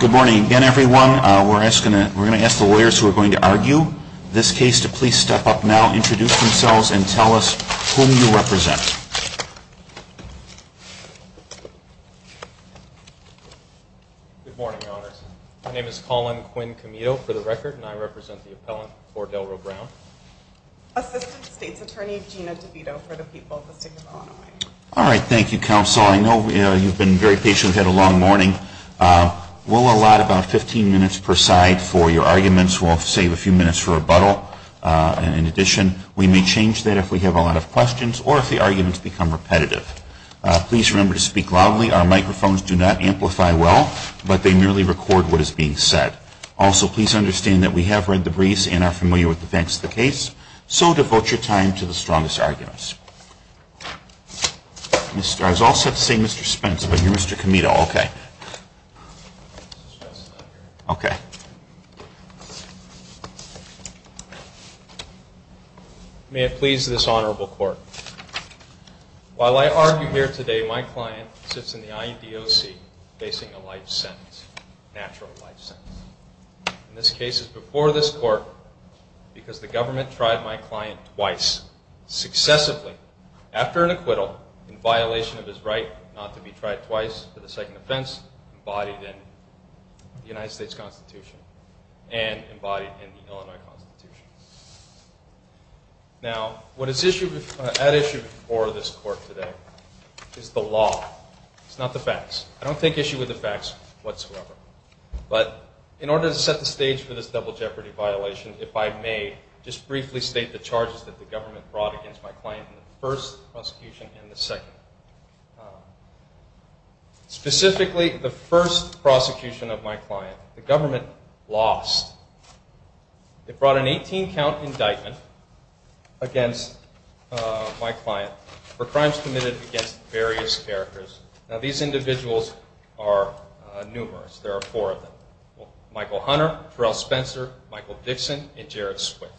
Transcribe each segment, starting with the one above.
Good morning. Again, everyone, we're going to ask the lawyers who are going to argue this case to please step up now, introduce themselves, and tell us whom you represent. Good morning, Your Honors. My name is Colin Quinn Comito, for the record, and I represent the appellant for Delro Brown. Assistant State's Attorney Gina DeVito, for All right. Thank you, Counsel. I know you've been very patient. We've had a long morning. We'll allot about 15 minutes per side for your arguments. We'll save a few minutes for rebuttal. In addition, we may change that if we have a lot of questions or if the arguments become repetitive. Please remember to speak loudly. Our microphones do not amplify well, but they merely record what is being said. Also, please understand that we have read the briefs and are Mr. I was also saying Mr. Spence, but you're Mr. Comito. Okay. Okay. May it please this honorable court, while I argue here today, my client sits in the IEDOC facing a life sentence, natural life sentence. In this case, it's before this court because the after an acquittal in violation of his right not to be tried twice for the second offense embodied in the United States Constitution and embodied in the Illinois Constitution. Now, what is at issue before this court today is the law. It's not the facts. I don't think issue with the facts whatsoever, but in order to set the stage for this double jeopardy violation, if I may, just briefly state the charges that the government brought against my client in the first prosecution and the second. Specifically, the first prosecution of my client, the government lost. It brought an 18 count indictment against my client for crimes committed against various characters. Now, these individuals are numerous. There are four of them. Michael Hunter, Terrell Spencer, Michael Dixon, and Jared Swift.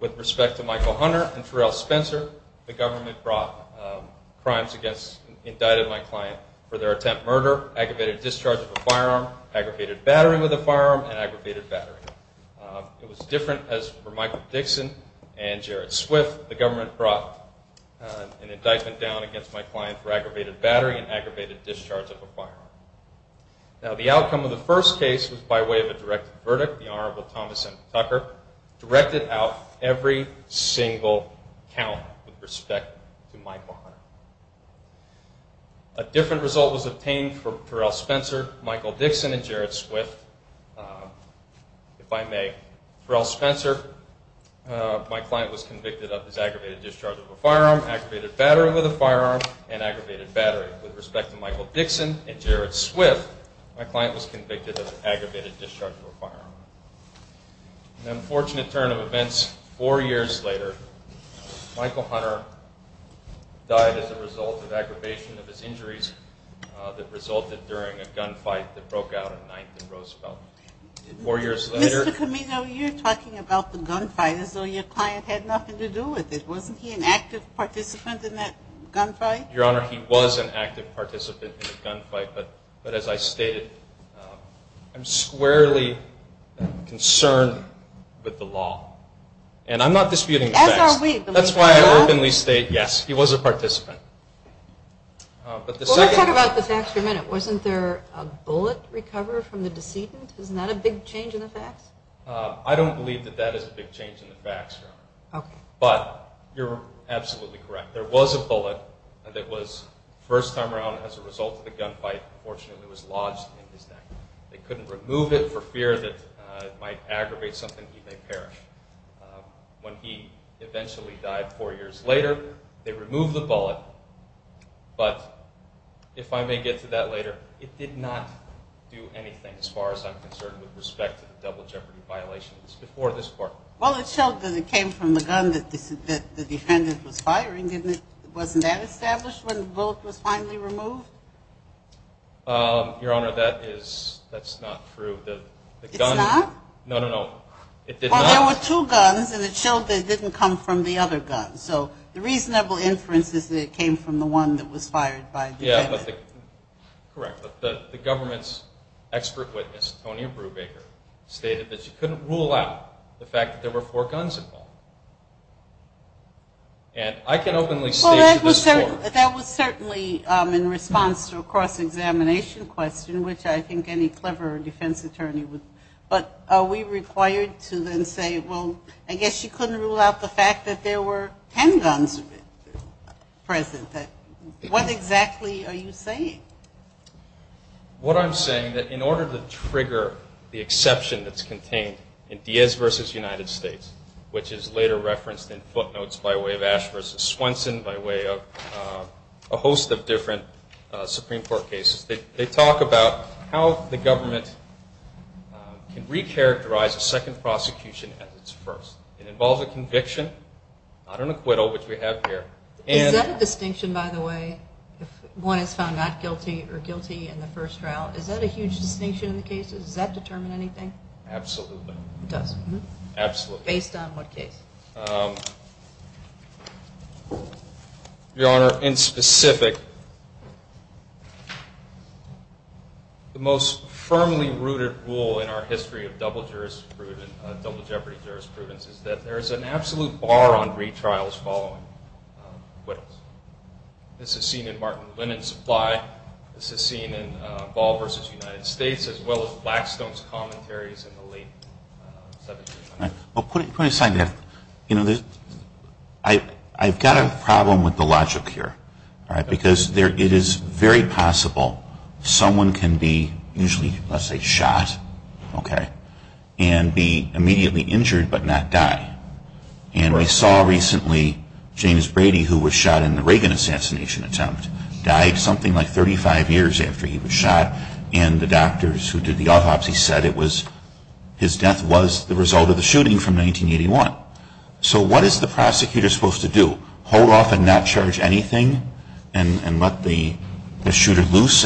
With respect to Michael Hunter and Terrell Spencer, the government brought crimes against, indicted my client for their attempt murder, aggravated discharge of a firearm, aggravated battery with a firearm, and aggravated battery. It was different as for Michael Dixon and Jared Swift. The government brought an indictment down against my client for aggravated battery and aggravated discharge of a firearm. Now, the outcome of the verdict, the Honorable Thomas M. Tucker directed out every single count with respect to Michael Hunter. A different result was obtained for Terrell Spencer, Michael Dixon, and Jared Swift. If I may, Terrell Spencer, my client was convicted of his aggravated discharge of a firearm, aggravated battery with a firearm, and aggravated battery. With respect to Michael Dixon and Jared Swift, he was convicted of aggravated discharge of a firearm. An unfortunate turn of events, four years later, Michael Hunter died as a result of aggravation of his injuries that resulted during a gun fight that broke out on 9th and Roosevelt. Four years later... Mr. Camino, you're talking about the gun fight as though your client had nothing to do with it. Wasn't he an active participant in that gun fight? Your Honor, he was an active participant in the gun fight, but as I stated, I'm squarely concerned with the law, and I'm not disputing the facts. That's why I openly state yes, he was a participant. Let's talk about the facts for a minute. Wasn't there a bullet recovered from the decedent? Isn't that a big change in the facts? I don't believe that that is a big change in the facts, Your Honor, but you're absolutely correct. There was a bullet that was first time around as a result of a gun fight. He was convicted of aggravated discharge of a firearm. When he eventually died four years later, they removed the bullet, but if I may get to that later, it did not do anything as far as I'm concerned with respect to the double jeopardy violations before this court. Well, it showed that it came from the gun that the defendant was firing, didn't it? Wasn't that established when the bullet was finally removed? Your Honor, that's not true. It's not? No, no, no. It did not. Well, there were two guns, and it showed that it didn't come from the other gun, so the reasonable inference is that it came from the one that was fired by the defendant. Yeah, correct, but the government's expert witness, Tony Brubaker, stated that you couldn't rule out the fact that there were four guns involved. And I can openly state to this court... Well, that was certainly in response to a cross-examination question, which I think any clever defense attorney would... But are we required to then say, well, I guess you couldn't rule out the fact that there were 10 guns present? What exactly are you saying? What I'm saying, that in order to trigger the exception that's later referenced in footnotes by way of Ash v. Swenson, by way of a host of different Supreme Court cases, they talk about how the government can recharacterize a second prosecution as its first. It involves a conviction, not an acquittal, which we have here. Is that a distinction, by the way, if one is found not guilty or guilty in the first trial? Is that a huge distinction in the case? Absolutely. It does? Absolutely. Based on what case? Your Honor, in specific, the most firmly rooted rule in our history of double jurisprudence, double jeopardy jurisprudence, is that there is an absolute bar on retrials following acquittals. This is seen in the late 70s and 80s. I've got a problem with the logic here. Because it is very possible someone can be usually, let's say, shot and be immediately injured but not die. And we saw recently James Brady, who was shot in the Reagan assassination attempt, died something like 35 years after he was shot. And the doctors who did the autopsy said it was, his death was the result of the shooting from 1981. So what is the prosecutor supposed to do? Hold off and not charge anything and let the shooter loose?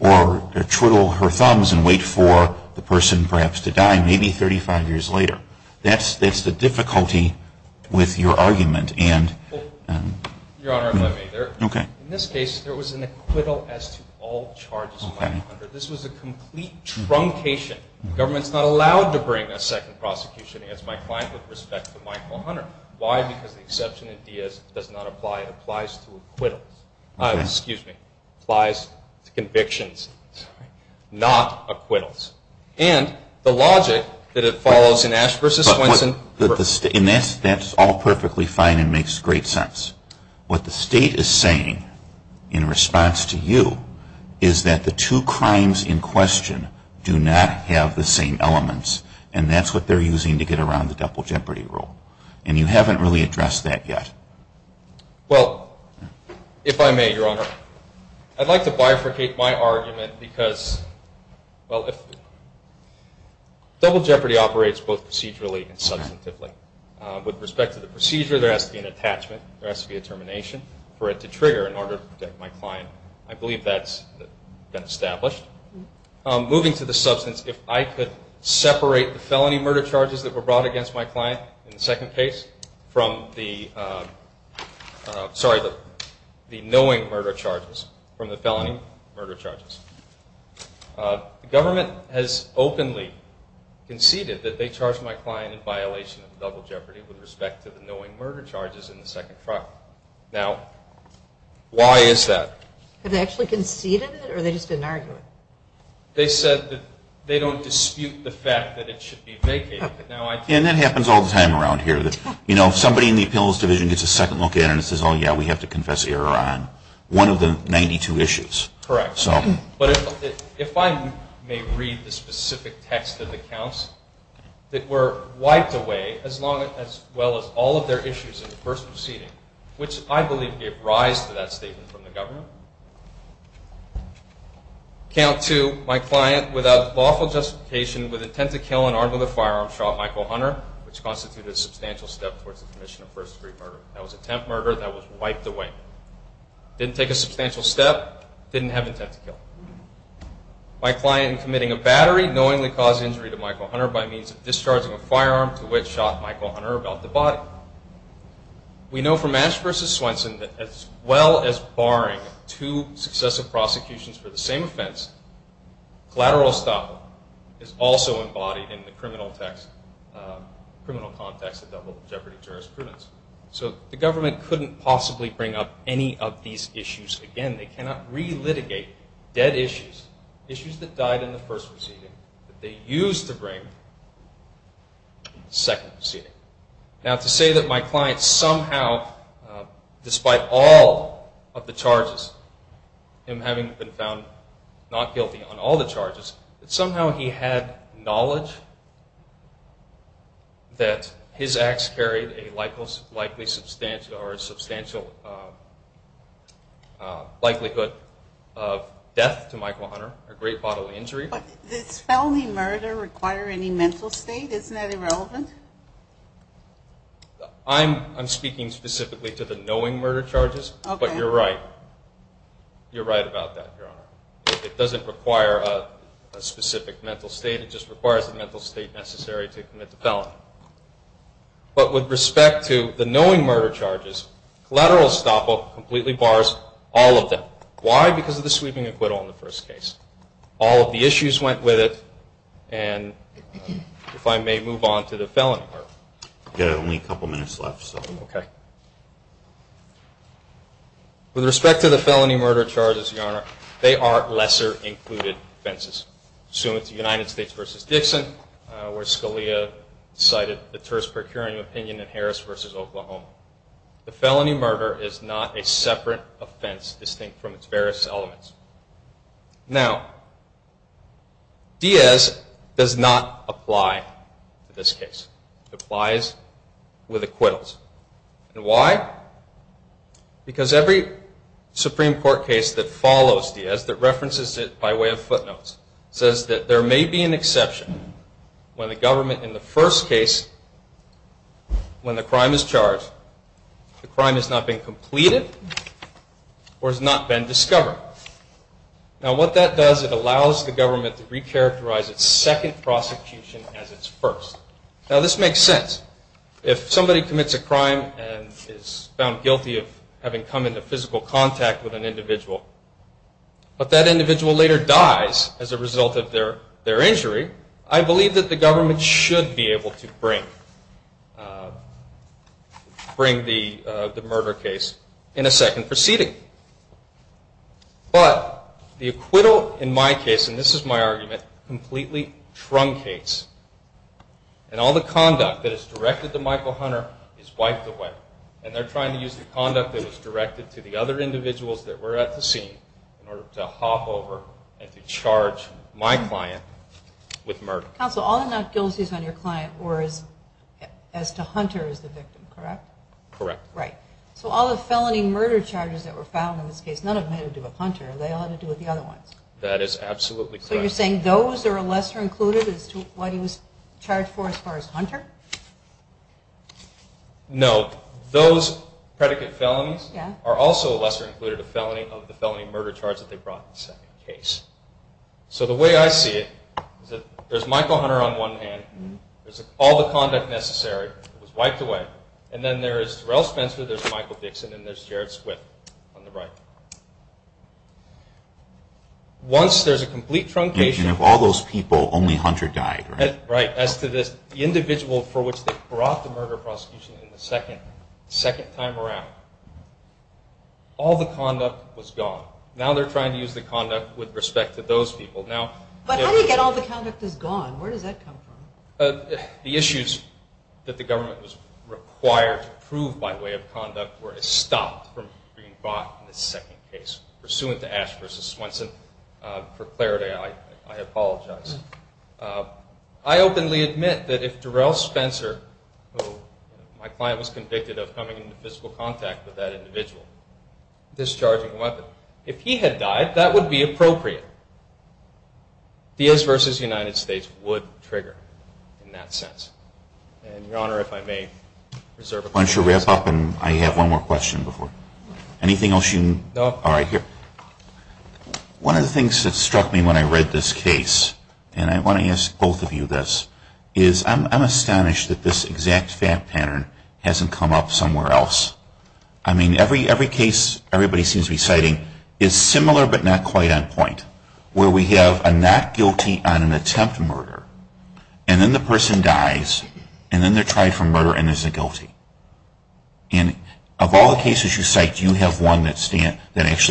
Or twiddle her thumbs and wait for the person perhaps to die maybe 35 years later? That's the difficulty with your argument. Your Honor, in this case, there are no charges. This was a complete truncation. The government is not allowed to bring a second prosecution against my client with respect to Michael Hunter. Why? Because the exception in Diaz does not apply. It applies to acquittals. Excuse me. It applies to convictions, not acquittals. And the logic that it follows in Ash v. Swenson. That's all perfectly fine and makes great sense. What the state is saying in response to you is that the two crimes in question do not have the same elements. And that's what they're using to get around the double jeopardy rule. And you haven't really addressed that yet. Well, if I may, Your Honor, I'd like to bifurcate my argument because, well, double jeopardy operates both procedurally and substantively. With respect to the procedure, there has to be an attachment. There has to be a termination for it to trigger in order to protect my client. I believe that's been established. Moving to the substance, if I could separate the felony murder charges that were brought against my client in the second case from the, sorry, the knowing murder charges from the felony murder charges. The government has the knowing murder charges in the second trial. Now, why is that? Have they actually conceded it or they just didn't argue it? They said that they don't dispute the fact that it should be vacated. And that happens all the time around here. You know, somebody in the appeals division gets a second look at it and says, oh, yeah, we have to confess error on one of the 92 issues. Correct. So. But if I may read the specific text of the counts that were wiped away, as long as, as well as all of their issues in the first proceeding, which I believe gave rise to that statement from the government. Count two, my client without lawful justification with intent to kill and armed with a firearm shot Michael Hunter, which constituted a substantial step towards the commission of first degree murder. That was attempt murder that was wiped away. Didn't take a substantial step, didn't have intent to kill. My client committing a battery knowingly caused injury to Michael Hunter by means of discharging a firearm to which shot Michael Hunter about the body. We know from Ash versus Swenson that as well as barring two successive prosecutions for the same offense, collateral estoppel is also embodied in the criminal text, criminal context of double jeopardy jurisprudence. So the government couldn't possibly bring up any of these issues again. They cannot re-litigate dead issues, issues that died in the first proceeding that they used to bring in the second proceeding. Now to say that my client somehow, despite all of the charges, him having been found not guilty on all the charges, that somehow he had knowledge that his acts carried a likely substantial or a substantial likelihood of death to Michael Hunter, a great bodily injury. But does felony murder require any mental state? Isn't that irrelevant? I'm speaking specifically to the knowing murder charges, but you're right. You're right about that, Your Honor. It doesn't require a specific mental state. It just requires a mental state necessary to commit the felony. But with respect to the knowing murder charges, collateral estoppel completely bars all of them. Why? Because of the sweeping acquittal in the first case. All of the issues went with it, and if I may move on to the felony murder. You have only a couple minutes left, so. Okay. With respect to the felony murder charges, Your Honor, they are lesser included offenses. Assuming it's the United States versus Dixon, where Scalia cited the terse procuring opinion in Harris versus Oklahoma. The felony murder is not a separate offense distinct from its elements. Now, Diaz does not apply to this case. It applies with acquittals. And why? Because every Supreme Court case that follows Diaz, that references it by way of footnotes, says that there may be an exception when the government in the first case, when the crime is charged, the crime has not been completed or has not been discovered. Now, what that does, it allows the government to recharacterize its second prosecution as its first. Now, this makes sense. If somebody commits a crime and is found guilty of having come into physical contact with an individual, but that individual later dies as a result of their injury, I believe that the government should be able to bring the murder case in a second proceeding. But the acquittal in my case, and this is my argument, completely truncates. And all the conduct that is directed to Michael Hunter is wiped away. And they're trying to use the conduct that was directed to the other individuals that were at the scene in order to hop over and to charge my client with murder. Counsel, all the not guilties on your client were as to Hunter as the victim, correct? Correct. Right. So all the felony murder charges that were found in this case, none of them had to do with Hunter. They all had to do with the other ones. That is absolutely correct. So you're saying those are lesser included as to what he was charged for as far as Hunter? No. Those predicate felonies are also lesser included, of the felony murder charge that they brought in the second case. So the way I see it is that there's Michael Hunter on one hand, there's all the conduct necessary, it was wiped away, and then there is Terrell Spencer, there's Michael Dixon, and there's Jared Swift on the right. Once there's a complete truncation... And of all those people, only Hunter died, right? Right. As to this individual for which they brought the murder prosecution in the second time around, all the conduct was gone. Now they're trying to use the conduct with respect to those people. But how do you get all the conduct is gone? Where does that come from? The issues that the government was required to prove by way of conduct were stopped from being brought in the second case pursuant to Ash v. Swenson. For clarity, I apologize. I openly admit that if Terrell Spencer, who my client was convicted of coming into physical contact with that individual, discharging a weapon, if he had died, that would be appropriate. Diaz v. United States would trigger in that sense. And Your Honor, if I may reserve a... Why don't you wrap up and I have one more question before... Anything else you... No. All right, here. One of the things that struck me when I read this case, and I want to ask both of you this, is I'm astonished that this exact fact pattern hasn't come up somewhere else. I mean, every case everybody seems to be citing is similar but not quite on point, where we have a not guilty on an attempt murder, and then the person dies, and then they're tried for murder and there's a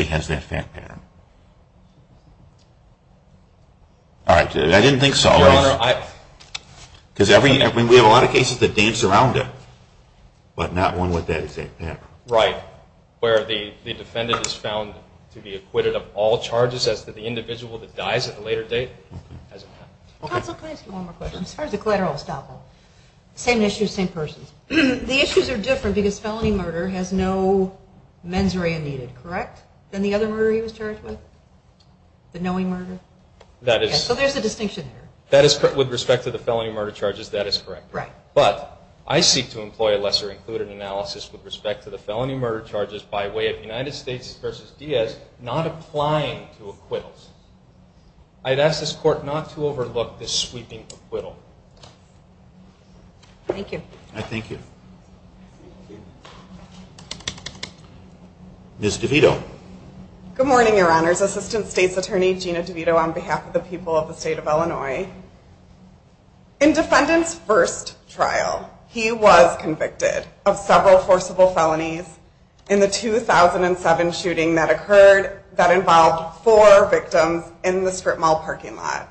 pattern. All right, I didn't think so. Because we have a lot of cases that dance around it, but not one with that exact pattern. Right, where the defendant is found to be acquitted of all charges as to the individual that dies at a later date. Counsel, can I ask you one more question? As far as the collateral estoppel, same issue, same person. The issues are different because felony murder has no needed, correct? Than the other murder he was charged with? The knowing murder? So there's a distinction there. That is correct. With respect to the felony murder charges, that is correct. Right. But I seek to employ a lesser included analysis with respect to the felony murder charges by way of United States v. Diaz not applying to acquittals. I'd ask this court not to overlook this sweeping acquittal. Thank you. I thank you. Ms. DeVito. Good morning, Your Honors. Assistant State's Attorney Gina DeVito on behalf of the people of the state of Illinois. In defendant's first trial, he was convicted of several forcible felonies in the 2007 shooting that occurred that involved four victims in the strip mall parking lot.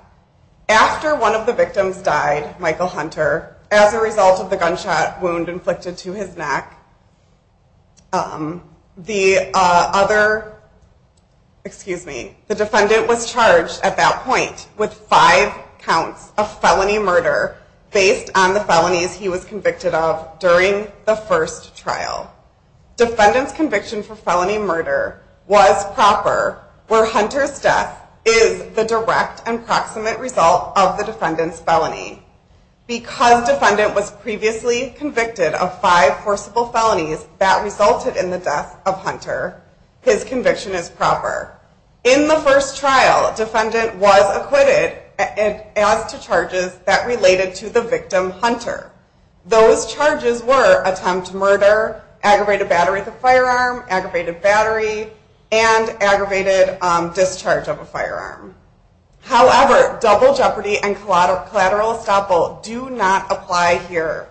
After one of the victims died, Michael Hunter, as a result of the gunshot wound inflicted to his neck, the defendant was charged at that point with five counts of felony murder based on the felonies he was convicted of during the first trial. Defendant's conviction for felony murder was proper where Hunter's death is the direct and proximate result of the defendant's felony. Because defendant was previously convicted of five forcible felonies that resulted in the death of Hunter, his conviction is proper. In the first trial, defendant was acquitted as to charges that related to the victim Hunter. Those charges were attempt murder, aggravated battery of the firearm, aggravated battery, and aggravated discharge of a firearm. However, double jeopardy and collateral estoppel do not apply here.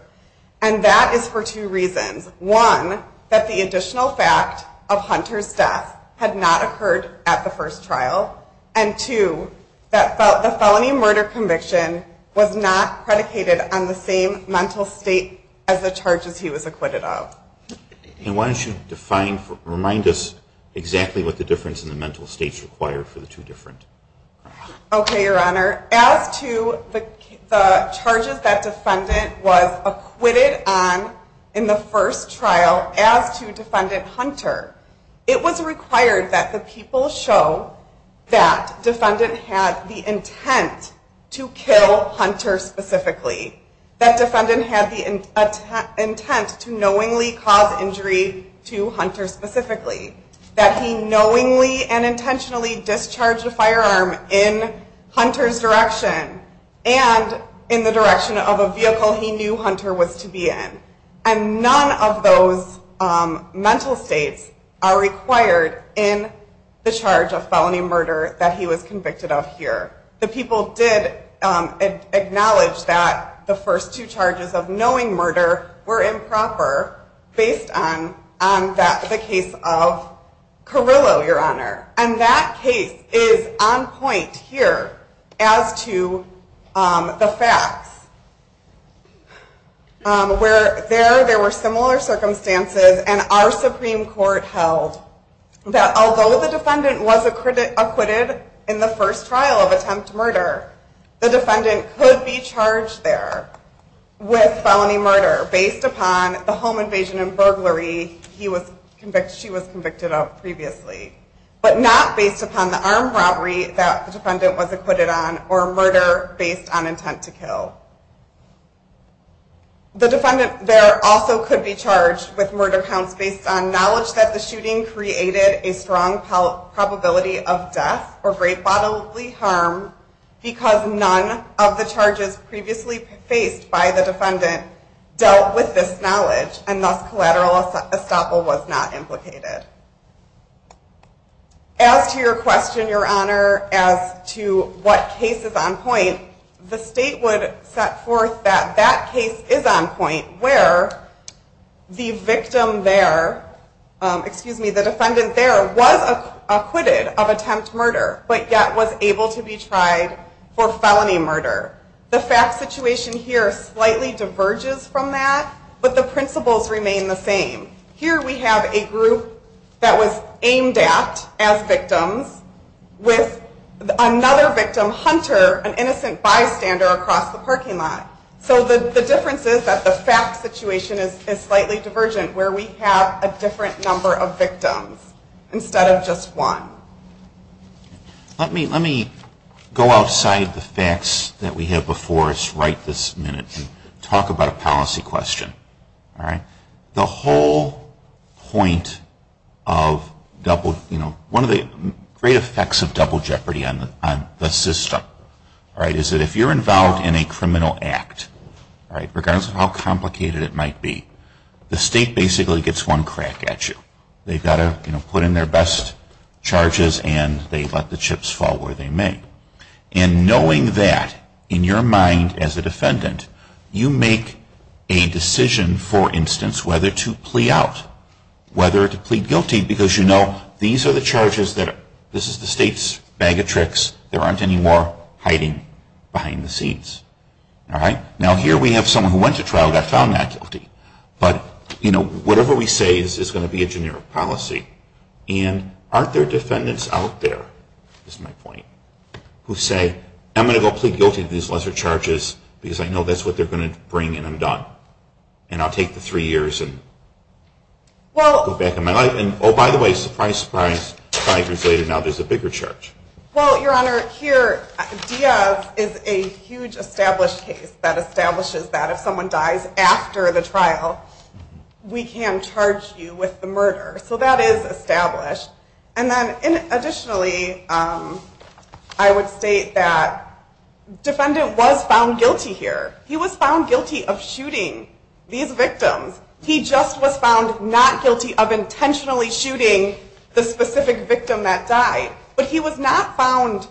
And that is for two reasons. One, that the additional fact of Hunter's death had not occurred at the first trial. And two, that the felony murder conviction was not predicated on the same mental state as the charges he was acquitted of. And why don't you define remind us exactly what the difference in the mental states required for the two different. Okay, your honor. As to the charges that defendant was acquitted on in the first trial as to defendant Hunter, it was required that the people show that defendant had the intent to kill Hunter specifically. That defendant had the intent to knowingly cause injury to Hunter specifically. That he knowingly and intentionally discharged a firearm in Hunter's direction and in the direction of a vehicle he knew Hunter was to be in. And none of those mental states are required in the charge of felony murder that he was convicted of here. The people did acknowledge that the first two charges of knowing murder were improper based on the case of Carrillo, your honor. And that case is on point here as to the facts. Where there were similar circumstances and our Supreme Court held that although the defendant was acquitted in the first trial of attempt murder, the defendant could be charged there with felony murder based upon the home invasion and burglary she was convicted of previously. But not based upon the armed robbery that the defendant was acquitted on or murder based on intent to kill. The defendant there also could be charged with murder counts based on knowledge that the shooting created a strong probability of death or great bodily harm because none of the charges previously faced by the defendant dealt with this knowledge and thus collateral estoppel was not implicated. As to your question, your honor, as to what case is on point, the state would set forth that that case is on point where the victim there, excuse me, the defendant there was acquitted of attempt murder but yet was able to be tried for felony murder. The fact situation here slightly diverges from that but the principles remain the same. Here we have a group that was the parking lot. So the difference is that the fact situation is slightly divergent where we have a different number of victims instead of just one. Let me go outside the facts that we have before us right this minute and talk about a policy question. The whole point of double, you know, one of the great effects of double jeopardy on the system, right, is that if you're involved in a criminal act, right, regardless of how complicated it might be, the state basically gets one crack at you. They've got to, you know, put in their best charges and they let the chips fall where they may. And knowing that, in your mind as a defendant, you make a decision, for instance, whether to plea out, whether to plead guilty because you know, these are the charges that, this is the state's bag of tricks. There aren't any more hiding behind the scenes, all right? Now here we have someone who went to trial and got found not guilty. But, you know, whatever we say is going to be a generic policy. And aren't there defendants out there, is my point, who say, I'm going to go plead guilty to these lesser charges because I know that's what they're going to bring and I'm going to take the three years and go back in my life? And, oh, by the way, surprise, surprise, five years later, now there's a bigger charge. Well, Your Honor, here, Diaz is a huge established case that establishes that if someone dies after the trial, we can charge you with the murder. So that is established. And then, additionally, I would state that defendant was found guilty here. He was found guilty of shooting these victims. He just was found not guilty of intentionally shooting the specific victim that died. But he was not found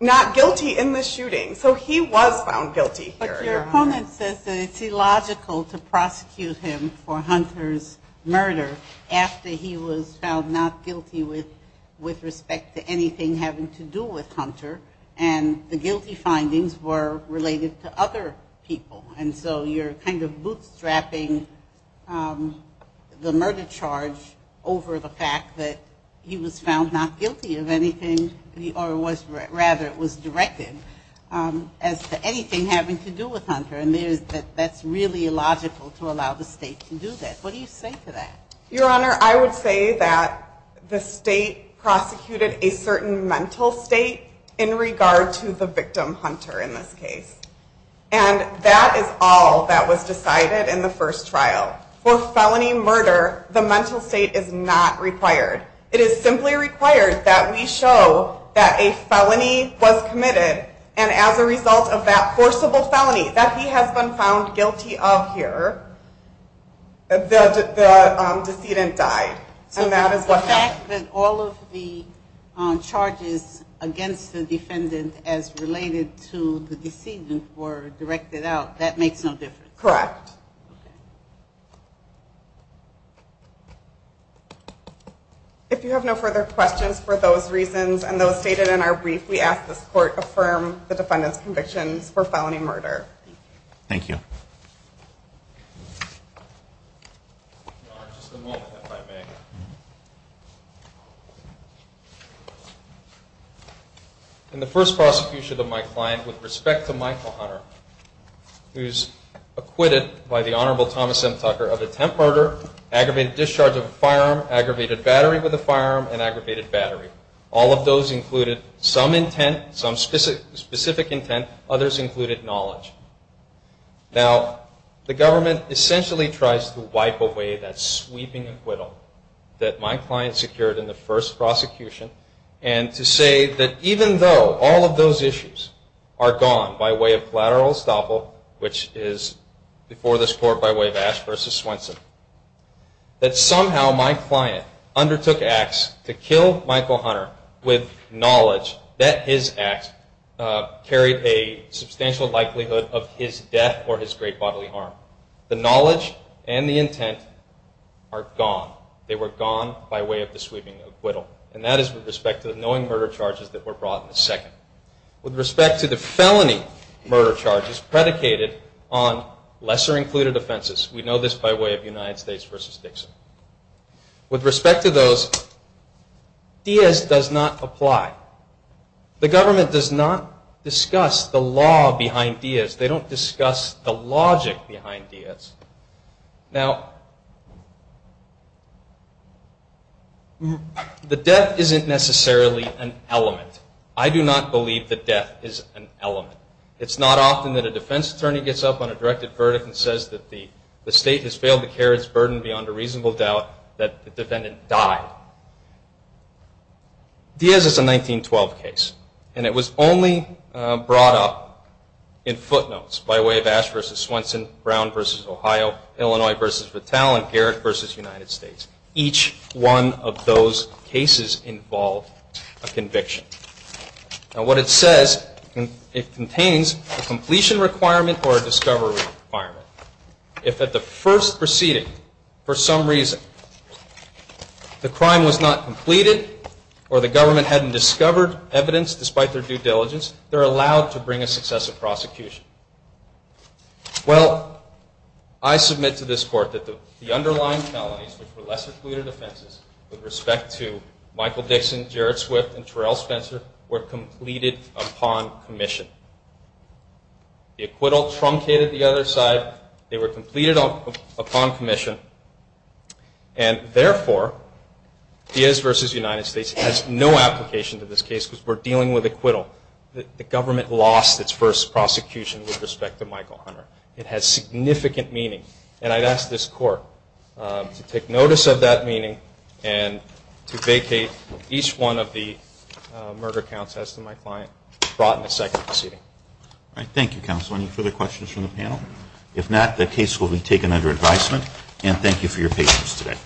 not guilty in the shooting. So he was found guilty here. But your opponent says that it's illogical to prosecute him for Hunter's murder after he was found not guilty with respect to anything having to do with Hunter. And the guilty findings were related to other people. And so you're kind of bootstrapping the murder charge over the fact that he was found not guilty of anything, or rather it was directed, as to anything having to do with Hunter. And that's really illogical to allow the state to do that. What do you say to that? Your Honor, I would say that the state prosecuted a certain mental state in regard to the victim, Hunter, in this case. And that is all that was decided in the first trial. For felony murder, the mental state is not required. It is simply required that we correct. If you have no further questions for those reasons, and those stated in our brief, we ask that this court affirm the defendant's convictions for felony murder. Thank you. Your Honor, just a moment. I just wanted to make sure that we were clear. Just a moment, if I may. In the first prosecution of my client, with respect to Michael Hunter, who's acquitted by the Honorable Thomas M. Tucker of attempt murder, aggravated discharge of a firearm, aggravated battery with a firearm, and aggravated battery. All of those included some intent, some specific intent. Others included knowledge. Now, the government essentially tries to wipe away that sweeping acquittal that my client secured in the first prosecution. And to say that even though all of those issues are gone by way of collateral estoppel, which is before this court by way of Ash v. Swenson, that somehow my client undertook acts to kill Michael Hunter with knowledge that his acts carried a substantial likelihood of his death or his great bodily harm. The knowledge and the intent are gone. They were gone by way of the sweeping acquittal. And that is with respect to the knowing murder charges that were brought in the second. With respect to the felony murder charges predicated on lesser included offenses, we know this by way of United States v. Dixon. With respect to those, Diaz does not apply. The government does not discuss the law behind Diaz. They don't discuss the logic behind Diaz. Now, the death isn't necessarily an element. I do not believe that death is an element. It's not often that a defense attorney gets up on a directed verdict and says that the state has failed to carry its burden beyond a reasonable doubt that the defendant died. Diaz is a Ohio, Illinois v. Vitale, and Garrett v. United States. Each one of those cases involved a conviction. Now, what it says, it contains a completion requirement or a discovery requirement. If at the first proceeding, for some reason, the crime was not completed or the government hadn't discovered evidence despite their due diligence, they're allowed to bring a successive prosecution. Well, I submit to this Court that the underlying felonies, which were lesser included offenses, with respect to Michael Dixon, Jared Swift, and Terrell Spencer, were completed upon commission. The acquittal truncated the other side. They were completed upon commission, and therefore, Diaz v. United States has no application to this case because we're dealing with acquittal. The government lost its first prosecution with respect to Michael Hunter. It has significant meaning, and I'd ask this Court to take notice of that meaning and to vacate each one of the murder counts as to my client brought in the second proceeding. All right. Thank you, Counsel. Any further questions from the panel? If not, the case will be taken under advisement, and thank you for your patience today.